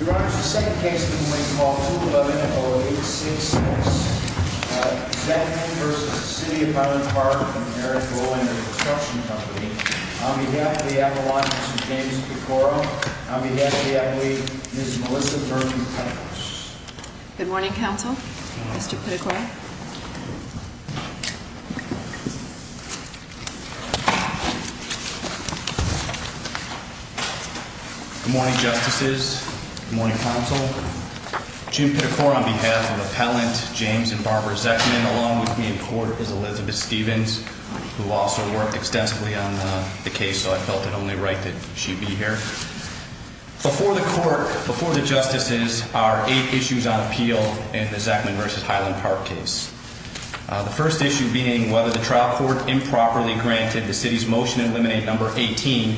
Your Honor, the second case of the morning is called 211-0866. Zechman v. City of Highland Park, from Harrisville, and their construction company. On behalf of the Appalachians, James Pitocoro. On behalf of the athlete, Ms. Melissa Murphy-Thomas. Good morning, counsel. Mr. Pitocoro. Good morning, justices. Good morning, counsel. Jim Pitocoro, on behalf of Appellant James and Barbara Zechman, along with me in court is Elizabeth Stevens, who also worked extensively on the case, so I felt it only right that she be here. Before the court, before the justices, are eight issues on appeal in the Zechman v. Highland Park case. The first issue being whether the trial court improperly granted the city's motion in limine no. 18,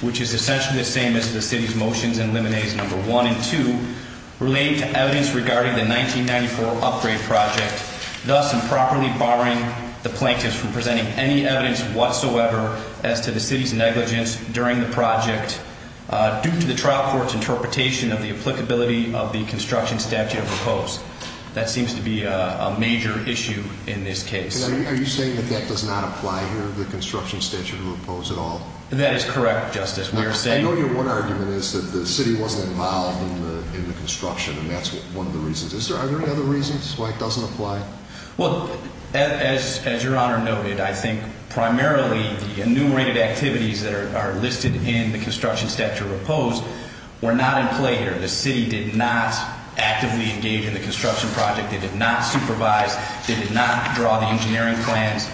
which is essentially the same as the city's motions in limines no. 1 and 2, relating to evidence regarding the 1994 upgrade project, thus improperly barring the plaintiffs from presenting any evidence whatsoever as to the city's negligence during the project, due to the trial court's interpretation of the applicability of the construction statute of repose. That seems to be a major issue in this case. Are you saying that that does not apply here, the construction statute of repose, at all? That is correct, justice. We are saying... I know your one argument is that the city wasn't involved in the construction, and that's one of the reasons. Are there any other reasons why it doesn't apply? Well, as your Honor noted, I think primarily the enumerated activities that are listed in the construction statute of repose were not in play here. The city did not actively engage in the construction project. They did not supervise. They did not draw the engineering plans.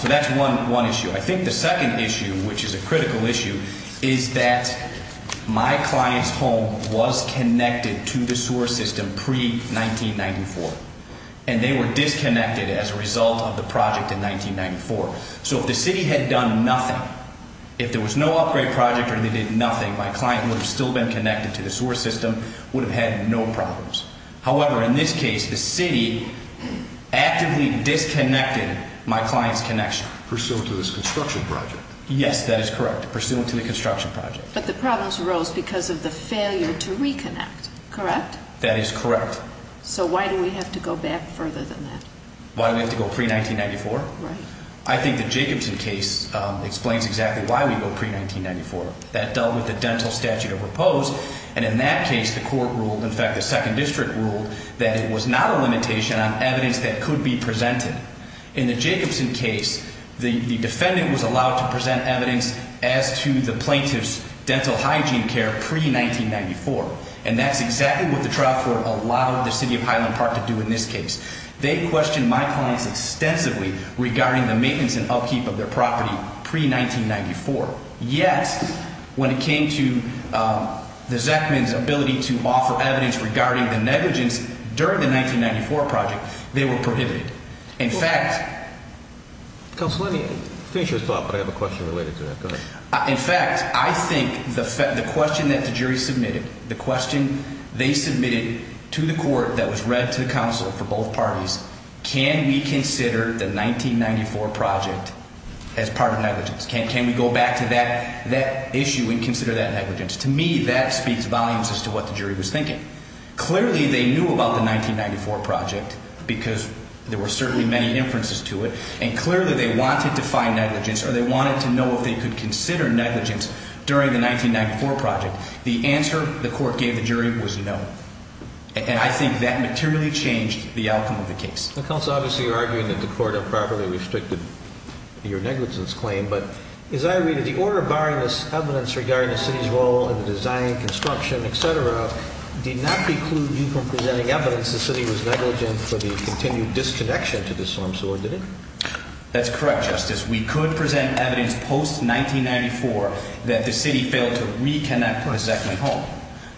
So that's one issue. I think the second issue, which is a critical issue, is that my client's home was connected to the sewer system pre-1994, and they were disconnected as a result of the project in 1994. So if the city had done nothing, if there was no upgrade project or they did nothing, my client would have still been connected to the sewer system, would have had no problems. However, in this case, the city actively disconnected my client's connection. Pursuant to this construction project? Yes, that is correct. Pursuant to the construction project. But the problems arose because of the failure to reconnect, correct? That is correct. So why do we have to go back further than that? Why do we have to go pre-1994? Right. I think the Jacobson case explains exactly why we go pre-1994. That dealt with the dental statute of repose, and in that case, the court ruled, in fact, the Second District ruled, that it was not a limitation on evidence that could be presented. In the Jacobson case, the defendant was allowed to present evidence as to the plaintiff's dental hygiene care pre-1994, and that's exactly what the trial court allowed the City of Highland Park to do in this case. They questioned my clients extensively regarding the maintenance and upkeep of their property pre-1994. Yet, when it came to the Zachman's ability to offer evidence regarding the negligence during the 1994 project, they were prohibited. Counsel, let me finish your thought, but I have a question related to that. Go ahead. In fact, I think the question that the jury submitted, the question they submitted to the court that was read to the counsel for both parties, can we consider the 1994 project as part of negligence? Can we go back to that issue and consider that negligence? To me, that speaks volumes as to what the jury was thinking. Clearly, they knew about the 1994 project because there were certainly many inferences to it, and clearly they wanted to find negligence or they wanted to know if they could consider negligence during the 1994 project. The answer the court gave the jury was no, and I think that materially changed the outcome of the case. Counsel, obviously you're arguing that the court improperly restricted your negligence claim, but as I read it, the order barring this evidence regarding the City's role in the design, construction, etc., did not preclude you from presenting evidence the City was negligent for the continued disconnection to this arms order, did it? That's correct, Justice. We could present evidence post-1994 that the City failed to reconnect the Zeckman home.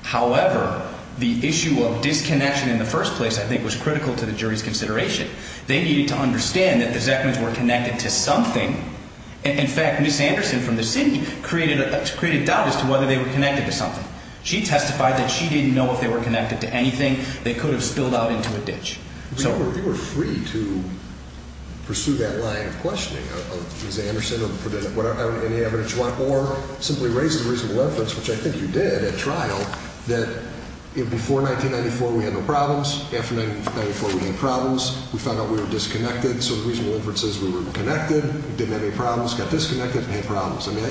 However, the issue of disconnection in the first place, I think, was critical to the jury's consideration. They needed to understand that the Zeckmans were connected to something. In fact, Ms. Anderson from the City created doubt as to whether they were connected to something. She testified that she didn't know if they were connected to anything. They could have spilled out into a ditch. You were free to pursue that line of questioning, Ms. Anderson, of any evidence you want, or simply raise a reasonable inference, which I think you did at trial, that before 1994 we had no problems, after 1994 we had problems, we found out we were disconnected, so the reasonable inference is we were connected, we didn't have any problems, got disconnected, and had problems. I mean,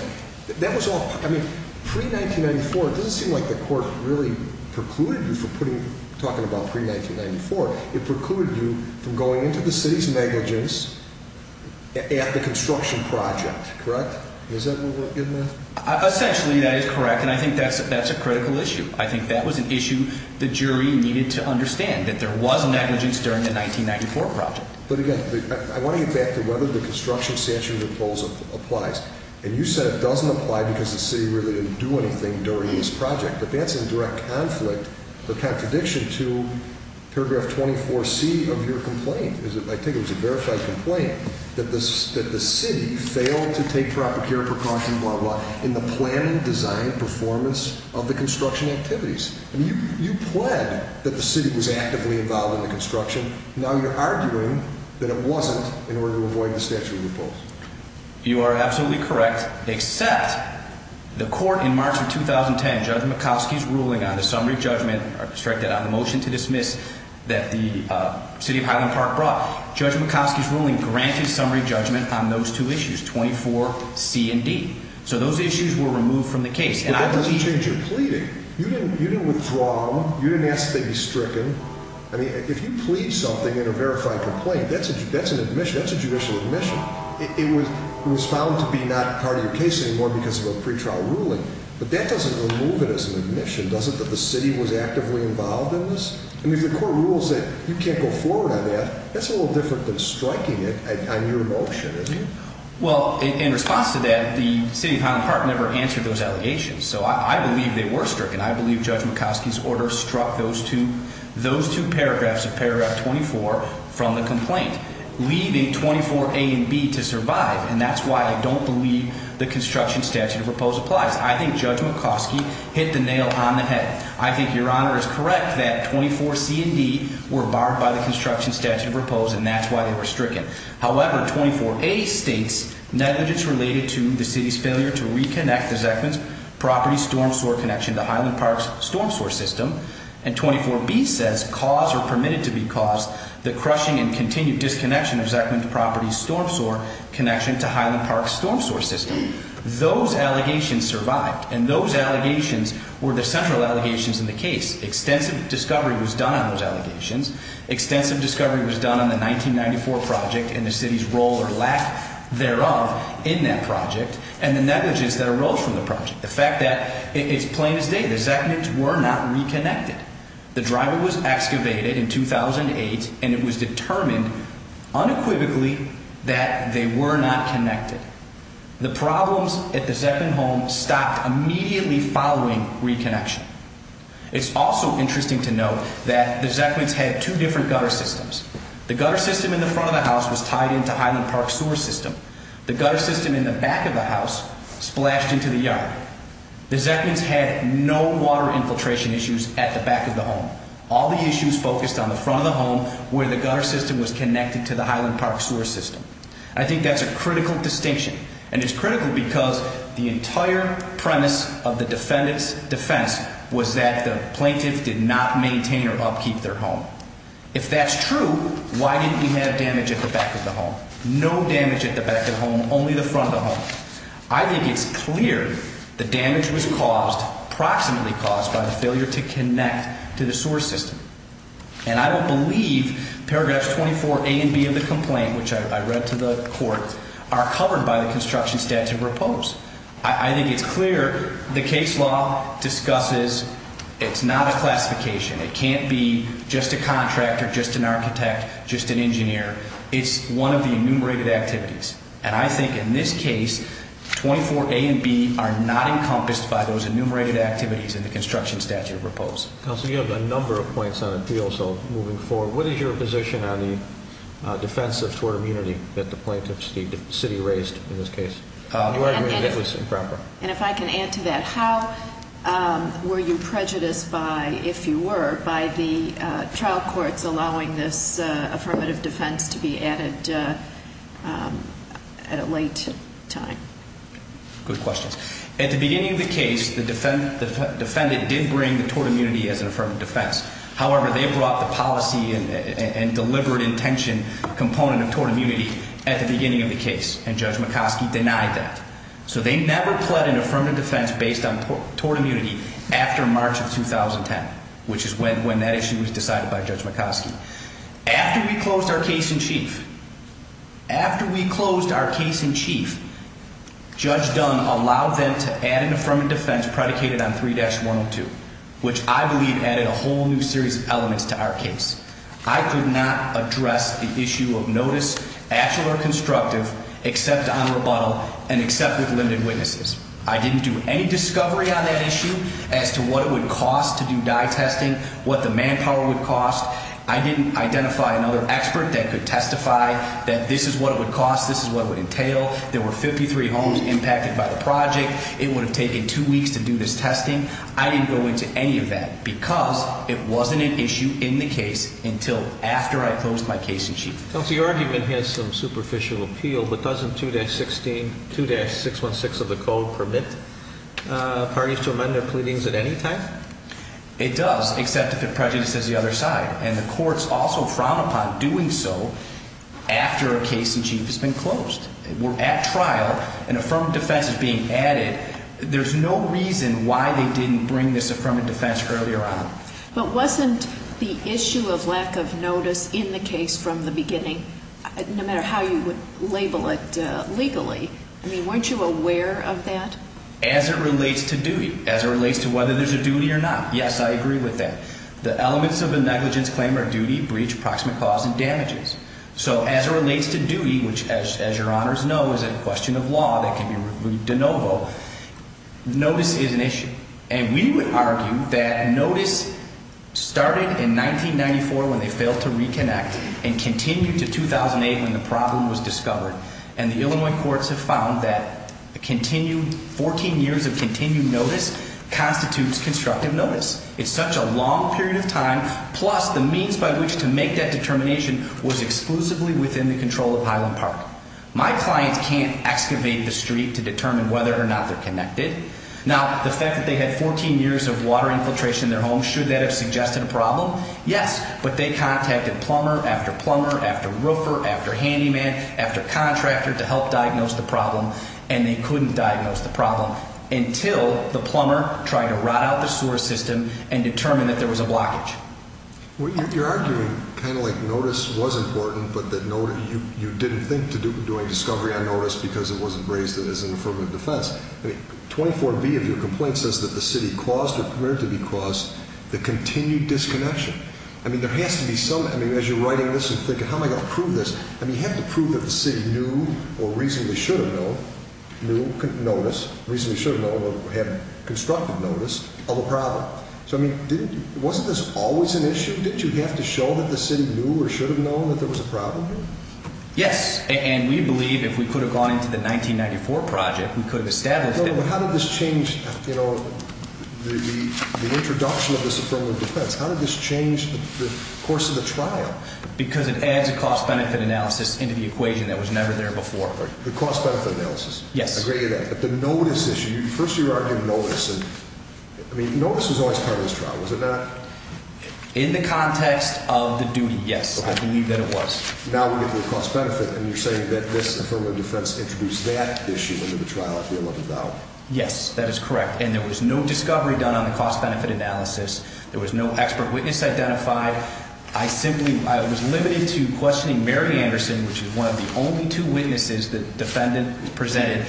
pre-1994, it doesn't seem like the court really precluded you from talking about pre-1994. It precluded you from going into the City's negligence at the construction project, correct? Is that what we're getting at? Essentially, that is correct, and I think that's a critical issue. I think that was an issue the jury needed to understand, that there was negligence during the 1994 project. But again, I want to get back to whether the construction statute applies. And you said it doesn't apply because the City really didn't do anything during this project. But that's in direct conflict or contradiction to paragraph 24C of your complaint. I think it was a verified complaint that the City failed to take proper care, precautions, blah, blah, blah, in the planning, design, performance of the construction activities. I mean, you pled that the City was actively involved in the construction. Now you're arguing that it wasn't in order to avoid the statute of liabilities. You are absolutely correct, except the court in March of 2010, Judge McCoskey's ruling on the summary judgment or the motion to dismiss that the City of Highland Park brought, Judge McCoskey's ruling granted summary judgment on those two issues, 24C and D. So those issues were removed from the case. But that doesn't change your pleading. You didn't withdraw them. You didn't ask to be stricken. I mean, if you plead something in a verified complaint, that's a judicial admission. It was found to be not part of your case anymore because of a pretrial ruling. But that doesn't remove it as an admission, does it, that the City was actively involved in this? I mean, if the court rules that you can't go forward on that, that's a little different than striking it on your motion, isn't it? Well, in response to that, the City of Highland Park never answered those allegations. So I believe they were stricken. I believe Judge McCoskey's order struck those two paragraphs of paragraph 24 from the complaint, leaving 24A and B to survive. And that's why I don't believe the construction statute of repose applies. I think Judge McCoskey hit the nail on the head. I think Your Honor is correct that 24C and D were barred by the construction statute of repose, and that's why they were stricken. However, 24A states negligence related to the City's failure to reconnect the Zeckman's property storm sewer connection to Highland Park's storm sewer system. And 24B says cause or permitted to be caused the crushing and continued disconnection of Zeckman's property storm sewer connection to Highland Park's storm sewer system. Those allegations survived, and those allegations were the central allegations in the case. Extensive discovery was done on those allegations. Extensive discovery was done on the 1994 project and the City's role or lack thereof in that project and the negligence that arose from the project. The fact that it's plain as day. The Zeckmans were not reconnected. The driveway was excavated in 2008, and it was determined unequivocally that they were not connected. The problems at the Zeckman home stopped immediately following reconnection. It's also interesting to note that the Zeckmans had two different gutter systems. The gutter system in the front of the house was tied into Highland Park's sewer system. The gutter system in the back of the house splashed into the yard. The Zeckmans had no water infiltration issues at the back of the home. All the issues focused on the front of the home where the gutter system was connected to the Highland Park sewer system. I think that's a critical distinction, and it's critical because the entire premise of the defendant's defense was that the plaintiff did not maintain or upkeep their home. If that's true, why didn't we have damage at the back of the home? No damage at the back of the home, only the front of the home. I think it's clear the damage was caused, approximately caused, by the failure to connect to the sewer system. And I don't believe paragraphs 24a and b of the complaint, which I read to the court, are covered by the construction statute or oppose. I think it's clear the case law discusses it's not a classification. It can't be just a contractor, just an architect, just an engineer. It's one of the enumerated activities. And I think in this case, 24a and b are not encompassed by those enumerated activities in the construction statute or oppose. Counsel, you have a number of points on appeal, so moving forward, what is your position on the defense of tort immunity that the plaintiff's city raised in this case? And if I can add to that, how were you prejudiced by, if you were, by the trial courts allowing this affirmative defense to be added at a late time? Good questions. At the beginning of the case, the defendant did bring the tort immunity as an affirmative defense. However, they brought the policy and deliberate intention component of tort immunity at the beginning of the case, and Judge McCoskey denied that. So they never pled an affirmative defense based on tort immunity after March of 2010, which is when that issue was decided by Judge McCoskey. After we closed our case in chief, after we closed our case in chief, Judge Dunn allowed them to add an affirmative defense predicated on 3-102, which I believe added a whole new series of elements to our case. I could not address the issue of notice, actual or constructive, except on rebuttal and except with limited witnesses. I didn't do any discovery on that issue as to what it would cost to do dye testing, what the manpower would cost. I didn't identify another expert that could testify that this is what it would cost, this is what it would entail. There were 53 homes impacted by the project. It would have taken two weeks to do this testing. I didn't go into any of that because it wasn't an issue in the case until after I closed my case in chief. The argument has some superficial appeal, but doesn't 2-616 of the code permit parties to amend their pleadings at any time? It does, except if it prejudices the other side. And the courts also frown upon doing so after a case in chief has been closed. We're at trial. An affirmative defense is being added. There's no reason why they didn't bring this affirmative defense earlier on. But wasn't the issue of lack of notice in the case from the beginning, no matter how you would label it legally, I mean, weren't you aware of that? As it relates to duty, as it relates to whether there's a duty or not, yes, I agree with that. The elements of a negligence claim are duty, breach, approximate cause, and damages. So as it relates to duty, which, as your honors know, is a question of law that can be reviewed de novo, notice is an issue. And we would argue that notice started in 1994 when they failed to reconnect and continued to 2008 when the problem was discovered. And the Illinois courts have found that 14 years of continued notice constitutes constructive notice. It's such a long period of time, plus the means by which to make that determination was exclusively within the control of Highland Park. My clients can't excavate the street to determine whether or not they're connected. Now, the fact that they had 14 years of water infiltration in their home, should that have suggested a problem? Yes, but they contacted plumber after plumber after roofer after handyman after contractor to help diagnose the problem. And they couldn't diagnose the problem until the plumber tried to rot out the sewer system and determine that there was a blockage. Well, you're arguing kind of like notice was important, but that you didn't think to doing discovery on notice because it wasn't raised as an affirmative defense. 24B of your complaint says that the city caused or permitted to be caused the continued disconnection. I mean, there has to be some, I mean, as you're writing this and thinking, how am I going to prove this? I mean, you have to prove that the city knew or reasonably should have known, knew notice, reasonably should have known or had constructed notice of the problem. So, I mean, wasn't this always an issue? Didn't you have to show that the city knew or should have known that there was a problem here? Yes, and we believe if we could have gone into the 1994 project, we could have established it. But how did this change, you know, the introduction of this affirmative defense? How did this change the course of the trial? Because it adds a cost-benefit analysis into the equation that was never there before. The cost-benefit analysis? Yes. Agreed to that. But the notice issue, first you argue notice and, I mean, notice was always part of this trial, was it not? In the context of the duty, yes. I believe that it was. Now we get to the cost-benefit and you're saying that this affirmative defense introduced that issue into the trial if we looked it down. Yes, that is correct. And there was no discovery done on the cost-benefit analysis. There was no expert witness identified. I simply was limited to questioning Mary Anderson, which is one of the only two witnesses the defendant presented,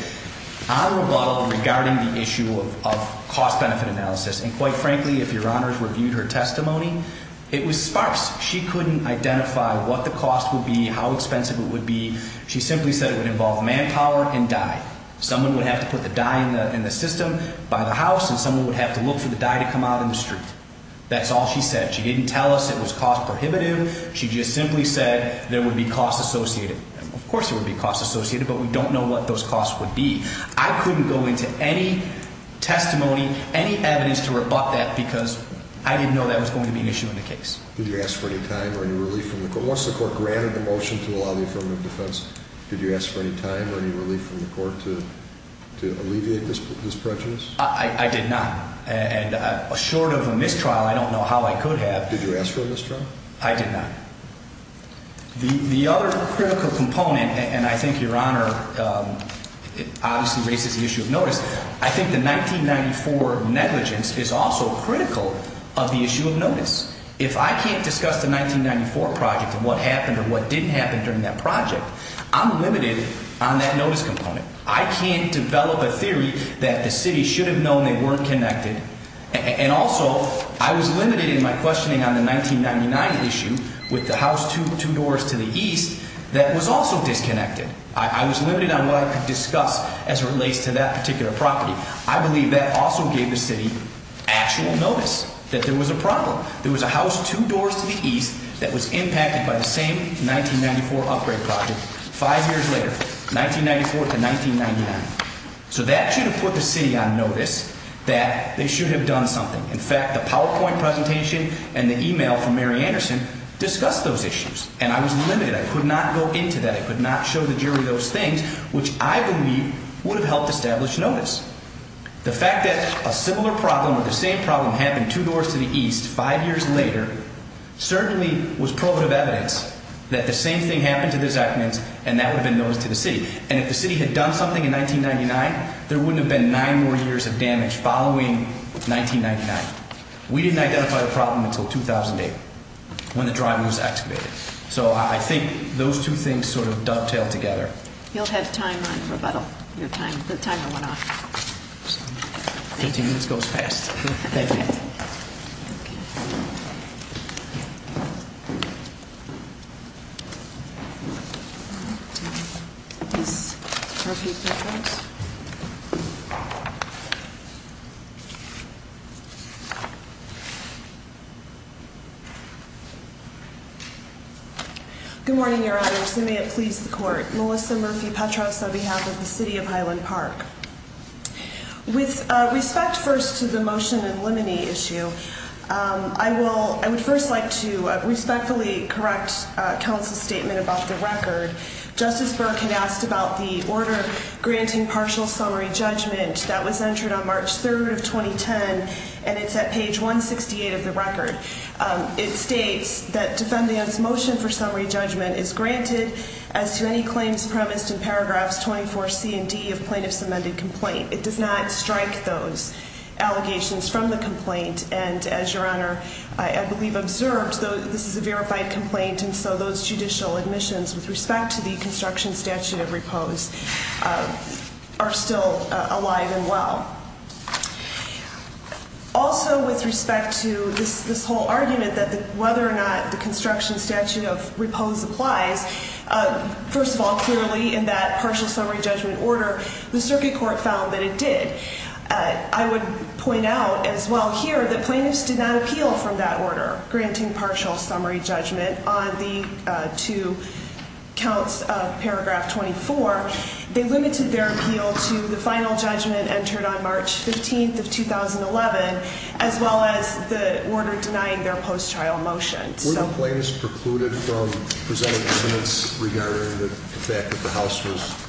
on rebuttal regarding the issue of cost-benefit analysis. And quite frankly, if Your Honors reviewed her testimony, it was sparse. She couldn't identify what the cost would be, how expensive it would be. She simply said it would involve manpower and die. Someone would have to put the die in the system by the house and someone would have to look for the die to come out in the street. That's all she said. She didn't tell us it was cost prohibitive. She just simply said there would be costs associated. Of course there would be costs associated, but we don't know what those costs would be. I couldn't go into any testimony, any evidence to rebut that because I didn't know that was going to be an issue in the case. Did you ask for any time or any relief from the court? Once the court granted the motion to allow the affirmative defense, did you ask for any time or any relief from the court to alleviate this prejudice? I did not. And short of a mistrial, I don't know how I could have. Did you ask for a mistrial? I did not. The other critical component, and I think Your Honor obviously raises the issue of notice, I think the 1994 negligence is also critical of the issue of notice. If I can't discuss the 1994 project and what happened or what didn't happen during that project, I'm limited on that notice component. I can't develop a theory that the city should have known they weren't connected. And also, I was limited in my questioning on the 1999 issue with the house two doors to the east that was also disconnected. I was limited on what I could discuss as it relates to that particular property. I believe that also gave the city actual notice that there was a problem. There was a house two doors to the east that was impacted by the same 1994 upgrade project. Five years later, 1994 to 1999. So that should have put the city on notice that they should have done something. In fact, the PowerPoint presentation and the email from Mary Anderson discussed those issues. And I was limited. I could not go into that. I could not show the jury those things, which I believe would have helped establish notice. The fact that a similar problem or the same problem happened two doors to the east five years later, certainly was probative evidence that the same thing happened to the Zuckmans and that would have been noticed to the city. And if the city had done something in 1999, there wouldn't have been nine more years of damage following 1999. We didn't identify the problem until 2008 when the driveway was excavated. So I think those two things sort of dovetail together. You'll have time on rebuttal, your time. The timer went off. Fifteen minutes goes fast. Thank you. Good morning, your honors. And may it please the court. Melissa Murphy Petros on behalf of the city of Highland Park. With respect first to the motion in limine issue, I would first like to respectfully correct counsel's statement about the record. Justice Burke had asked about the order granting partial summary judgment that was entered on March 3rd of 2010. And it's at page 168 of the record. It states that defendant's motion for summary judgment is granted as to any claims premised in paragraphs 24C and D of plaintiff's amended complaint. It does not strike those allegations from the complaint. And as your honor, I believe observed, this is a verified complaint. And so those judicial admissions with respect to the construction statute of repose are still alive and well. Also with respect to this whole argument that whether or not the construction statute of repose applies, first of all, clearly in that partial summary judgment order, the circuit court found that it did. I would point out as well here that plaintiffs did not appeal from that order granting partial summary judgment on the two counts of paragraph 24. They limited their appeal to the final judgment entered on March 15th of 2011, as well as the order denying their post-trial motion. Were the plaintiffs precluded from presenting evidence regarding the fact that the house was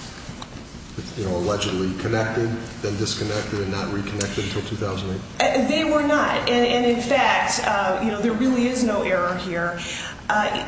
allegedly connected, then disconnected, and not reconnected until 2008? They were not. And in fact, you know, there really is no error here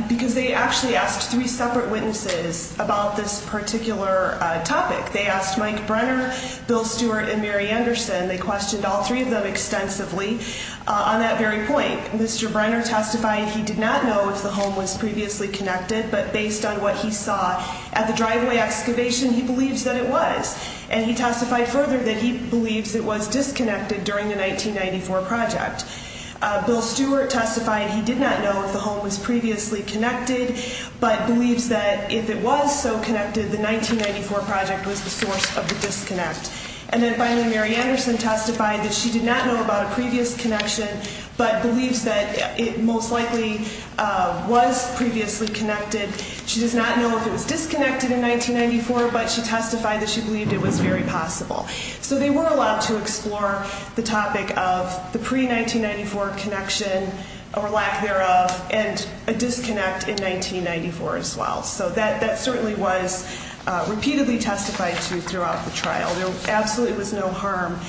because they actually asked three separate witnesses about this particular topic. They asked Mike Brenner, Bill Stewart, and Mary Anderson. They questioned all three of them extensively on that very point. Mr. Brenner testified he did not know if the home was previously connected, but based on what he saw at the driveway excavation, he believes that it was. And he testified further that he believes it was disconnected during the 1994 project. Bill Stewart testified he did not know if the home was previously connected, but believes that if it was so connected, the 1994 project was the source of the disconnect. And then finally, Mary Anderson testified that she did not know about a previous connection, but believes that it most likely was previously connected. She does not know if it was disconnected in 1994, but she testified that she believed it was very possible. So they were allowed to explore the topic of the pre-1994 connection, or lack thereof, and a disconnect in 1994 as well. So that certainly was repeatedly testified to throughout the trial. There absolutely was no harm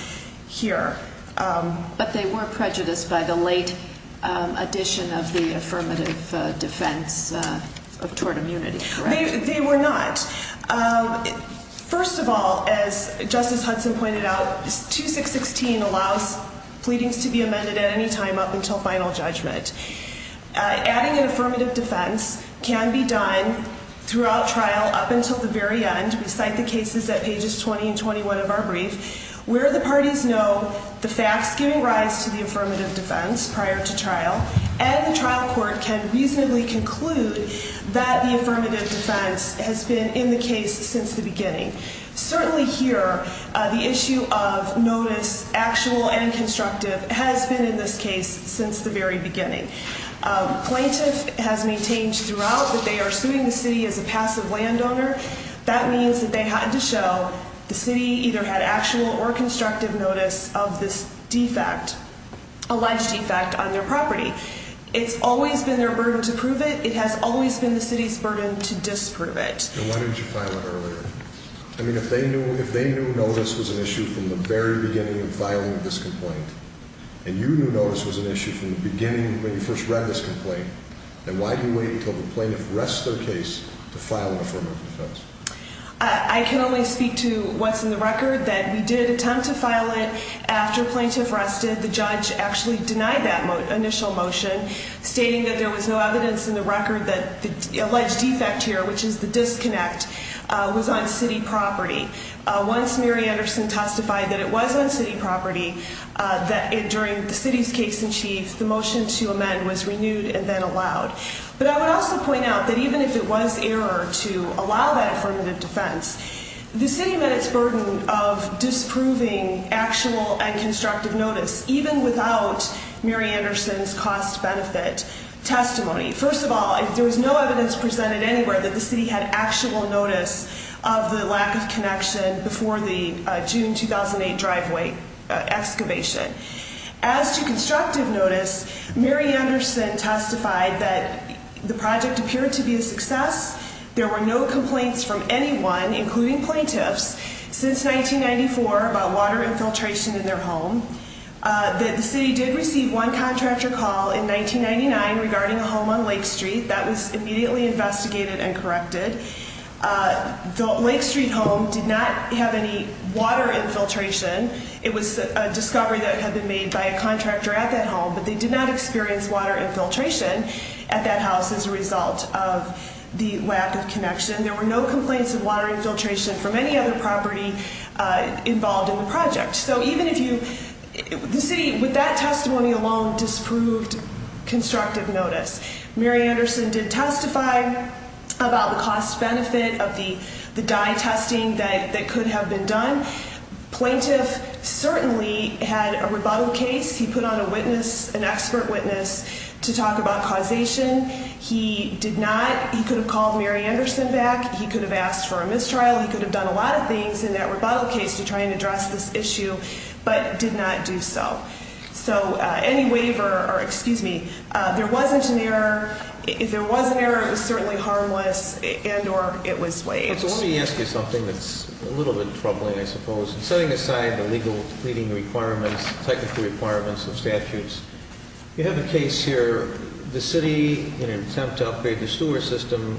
here. But they were prejudiced by the late addition of the affirmative defense of tort immunity, correct? They were not. First of all, as Justice Hudson pointed out, 2616 allows pleadings to be amended at any time up until final judgment. Adding an affirmative defense can be done throughout trial up until the very end. I'd like to cite the cases at pages 20 and 21 of our brief, where the parties know the facts giving rise to the affirmative defense prior to trial, and the trial court can reasonably conclude that the affirmative defense has been in the case since the beginning. Certainly here, the issue of notice, actual and constructive, has been in this case since the very beginning. Plaintiff has maintained throughout that they are suing the city as a passive landowner. That means that they had to show the city either had actual or constructive notice of this defect, alleged defect, on their property. It's always been their burden to prove it. It has always been the city's burden to disprove it. And why didn't you file it earlier? I mean, if they knew notice was an issue from the very beginning of filing this complaint, and you knew notice was an issue from the beginning when you first read this complaint, then why do you wait until the plaintiff rests their case to file an affirmative defense? I can only speak to what's in the record, that we did attempt to file it after plaintiff rested. The judge actually denied that initial motion, stating that there was no evidence in the record that the alleged defect here, which is the disconnect, was on city property. Once Mary Anderson testified that it was on city property during the city's case in chief, the motion to amend was renewed and then allowed. But I would also point out that even if it was error to allow that affirmative defense, the city met its burden of disproving actual and constructive notice, even without Mary Anderson's cost-benefit testimony. First of all, there was no evidence presented anywhere that the city had actual notice of the lack of connection before the June 2008 driveway excavation. As to constructive notice, Mary Anderson testified that the project appeared to be a success. There were no complaints from anyone, including plaintiffs, since 1994 about water infiltration in their home. The city did receive one contractor call in 1999 regarding a home on Lake Street. That was immediately investigated and corrected. The Lake Street home did not have any water infiltration. It was a discovery that had been made by a contractor at that home, but they did not experience water infiltration at that house as a result of the lack of connection. There were no complaints of water infiltration from any other property involved in the project. The city, with that testimony alone, disproved constructive notice. Mary Anderson did testify about the cost-benefit of the dye testing that could have been done. The plaintiff certainly had a rebuttal case. He put on an expert witness to talk about causation. He did not. He could have called Mary Anderson back. He could have asked for a mistrial. He could have done a lot of things in that rebuttal case to try and address this issue, but did not do so. So any waiver or, excuse me, there wasn't an error. If there was an error, it was certainly harmless and or it was waived. Let me ask you something that's a little bit troubling, I suppose. Setting aside the legal leading requirements, technical requirements of statutes, you have a case here. The city, in an attempt to upgrade the sewer system,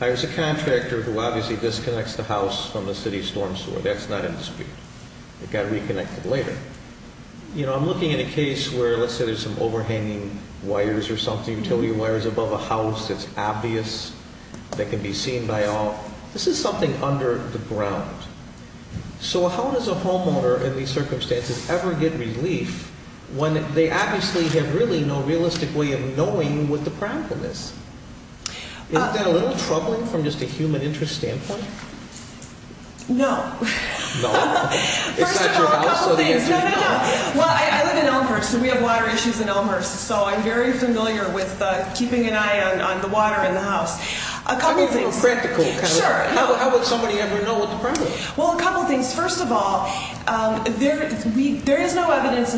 hires a contractor who obviously disconnects the house from the city's storm sewer. That's not in dispute. It got reconnected later. You know, I'm looking at a case where, let's say there's some overhanging wires or something, utility wires above a house that's obvious, that can be seen by all. This is something under the ground. So how does a homeowner in these circumstances ever get relief when they obviously have really no realistic way of knowing what the problem is? Is that a little troubling from just a human interest standpoint? No. No? First of all, a couple things. No, no, no. Well, I live in Elmhurst, so we have water issues in Elmhurst. So I'm very familiar with keeping an eye on the water in the house. A couple things. A little practical. Sure. How would somebody ever know what the problem is? Well, a couple things. First of all, there is no evidence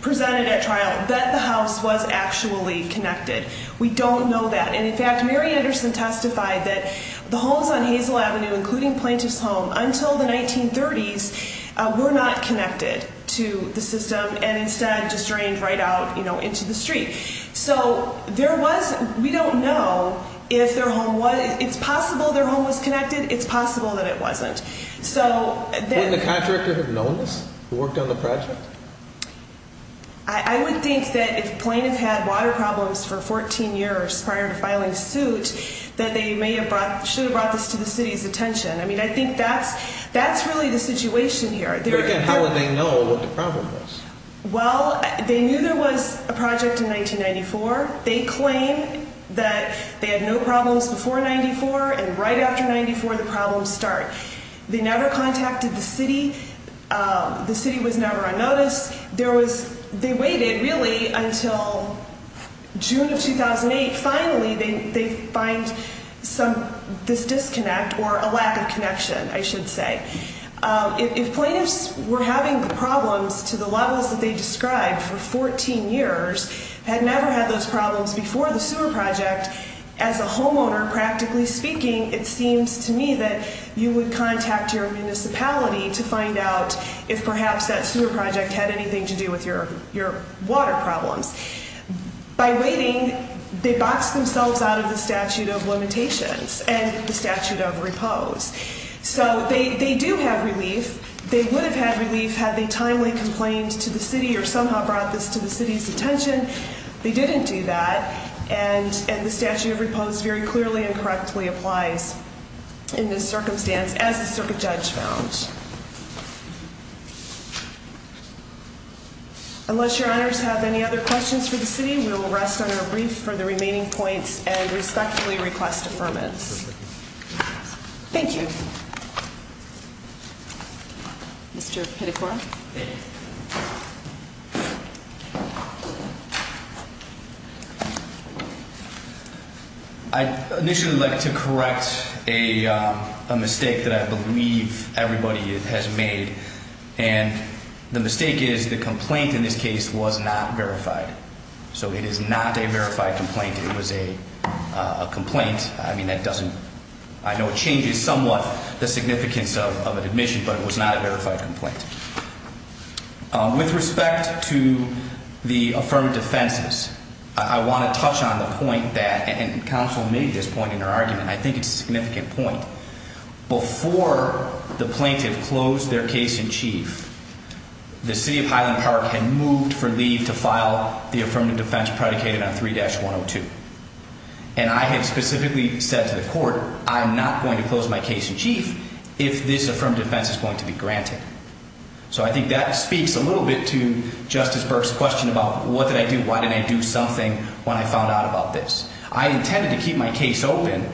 presented at trial that the house was actually connected. We don't know that. And, in fact, Mary Anderson testified that the homes on Hazel Avenue, including Plaintiff's Home, until the 1930s were not connected to the system and instead just drained right out into the street. So there was – we don't know if their home was – it's possible their home was connected. It's possible that it wasn't. Wouldn't the contractor have known this who worked on the project? I would think that if Plaintiff had water problems for 14 years prior to filing suit, that they may have brought – should have brought this to the city's attention. I mean, I think that's really the situation here. How would they know what the problem was? Well, they knew there was a project in 1994. They claim that they had no problems before 94, and right after 94, the problems start. They never contacted the city. The city was never on notice. There was – they waited, really, until June of 2008. Finally, they find some – this disconnect or a lack of connection, I should say. If plaintiffs were having problems to the levels that they described for 14 years, had never had those problems before the sewer project, as a homeowner, practically speaking, it seems to me that you would contact your municipality to find out if perhaps that sewer project had anything to do with your water problems. By waiting, they boxed themselves out of the statute of limitations and the statute of repose. So they do have relief. They would have had relief had they timely complained to the city or somehow brought this to the city's attention. They didn't do that, and the statute of repose very clearly and correctly applies in this circumstance, as the circuit judge found. Unless your honors have any other questions for the city, we will rest on our brief for the remaining points and respectfully request affirmance. Thank you. Mr. Pitacora. I'd initially like to correct a mistake that I believe everybody has made, and the mistake is the complaint in this case was not verified. So it is not a verified complaint. It was a complaint. I mean, that doesn't, I know it changes somewhat the significance of an admission, but it was not a verified complaint. With respect to the affirmative defenses, I want to touch on the point that, and counsel made this point in her argument, I think it's a significant point. Before the plaintiff closed their case in chief, the city of Highland Park had moved for leave to file the affirmative defense predicated on 3-102. And I had specifically said to the court, I'm not going to close my case in chief if this affirmative defense is going to be granted. So I think that speaks a little bit to Justice Burke's question about what did I do, why did I do something when I found out about this. I intended to keep my case open,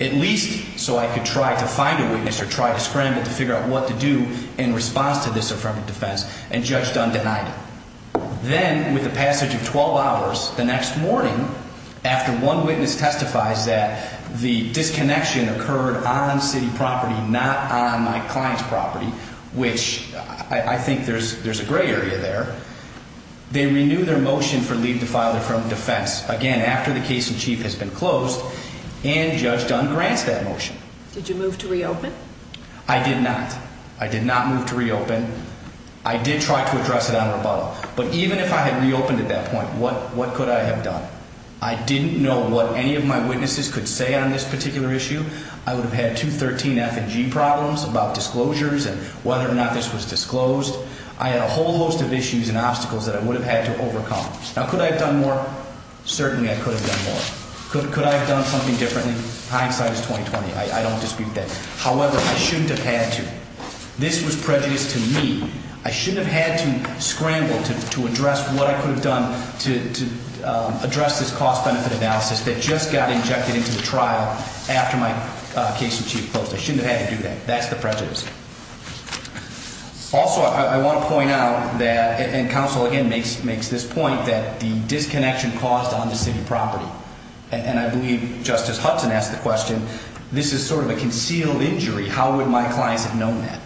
at least so I could try to find a witness or try to scramble to figure out what to do in response to this affirmative defense, and Judge Dunn denied it. Then, with the passage of 12 hours, the next morning, after one witness testifies that the disconnection occurred on city property, not on my client's property, which I think there's a gray area there, they renew their motion for leave to file the affirmative defense, again, after the case in chief has been closed, and Judge Dunn grants that motion. Did you move to reopen? I did not. I did not move to reopen. I did try to address it on rebuttal. But even if I had reopened at that point, what could I have done? I didn't know what any of my witnesses could say on this particular issue. I would have had two 13-F and G problems about disclosures and whether or not this was disclosed. I had a whole host of issues and obstacles that I would have had to overcome. Now, could I have done more? Certainly, I could have done more. Could I have done something differently? Hindsight is 20-20. I don't dispute that. However, I shouldn't have had to. This was prejudice to me. I shouldn't have had to scramble to address what I could have done to address this cost-benefit analysis that just got injected into the trial after my case in chief closed. I shouldn't have had to do that. That's the prejudice. Also, I want to point out that, and counsel again makes this point, that the disconnection caused on the city property. And I believe Justice Hudson asked the question, this is sort of a concealed injury. How would my clients have known that?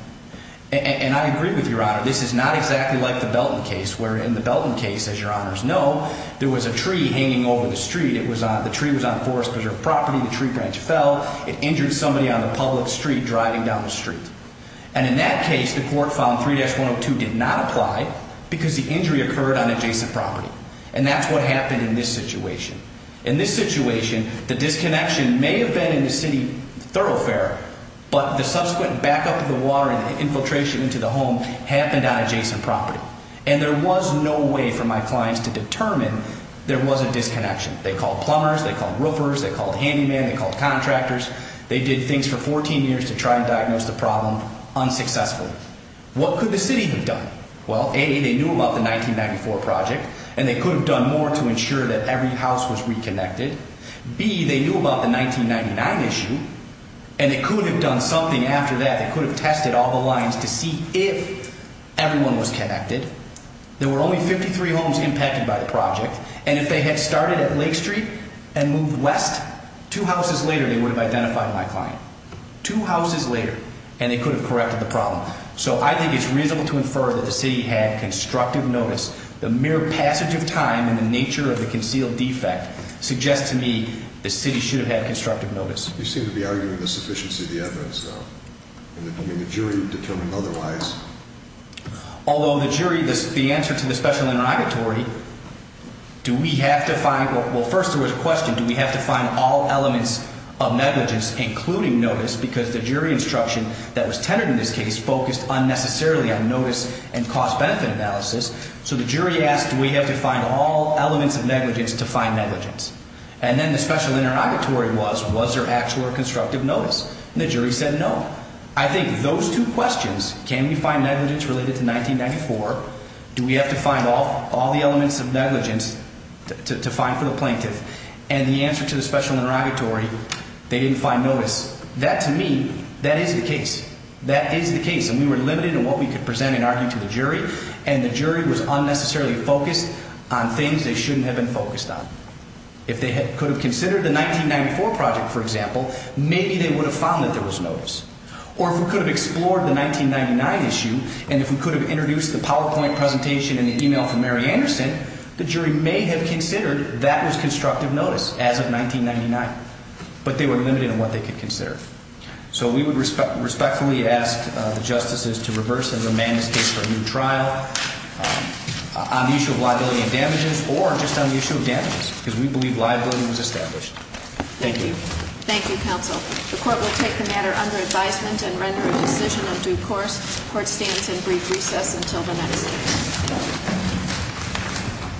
And I agree with Your Honor. This is not exactly like the Belton case, where in the Belton case, as Your Honors know, there was a tree hanging over the street. The tree was on Forest Preserve property. The tree branch fell. It injured somebody on the public street driving down the street. And in that case, the court found 3-102 did not apply because the injury occurred on adjacent property. And that's what happened in this situation. In this situation, the disconnection may have been in the city thoroughfare, but the subsequent backup of the water and the infiltration into the home happened on adjacent property. And there was no way for my clients to determine there was a disconnection. They called plumbers. They called roofers. They called handymen. They called contractors. They did things for 14 years to try and diagnose the problem unsuccessfully. What could the city have done? Well, A, they knew about the 1994 project, and they could have done more to ensure that every house was reconnected. B, they knew about the 1999 issue, and they could have done something after that that could have tested all the lines to see if everyone was connected. And if they had started at Lake Street and moved west, two houses later, they would have identified my client. Two houses later, and they could have corrected the problem. So I think it's reasonable to infer that the city had constructive notice. The mere passage of time and the nature of the concealed defect suggests to me the city should have had constructive notice. You seem to be arguing the sufficiency of the evidence, though. I mean, the jury determined otherwise. Although the jury, the answer to the special interrogatory, do we have to find, well, first there was a question. Do we have to find all elements of negligence, including notice? Because the jury instruction that was tenored in this case focused unnecessarily on notice and cost-benefit analysis. So the jury asked, do we have to find all elements of negligence to find negligence? And then the special interrogatory was, was there actual or constructive notice? And the jury said no. I think those two questions, can we find negligence related to 1994, do we have to find all the elements of negligence to find for the plaintiff, and the answer to the special interrogatory, they didn't find notice. That, to me, that is the case. That is the case, and we were limited in what we could present and argue to the jury, and the jury was unnecessarily focused on things they shouldn't have been focused on. If they could have considered the 1994 project, for example, maybe they would have found that there was notice. Or if we could have explored the 1999 issue, and if we could have introduced the PowerPoint presentation and the e-mail from Mary Anderson, the jury may have considered that was constructive notice as of 1999. But they were limited in what they could consider. So we would respectfully ask the justices to reverse and remand this case for a new trial on the issue of liability and damages, or just on the issue of damages, because we believe liability was established. Thank you. Thank you, counsel. The court will take the matter under advisement and render a decision of due course. Court stands in brief recess until the next hearing.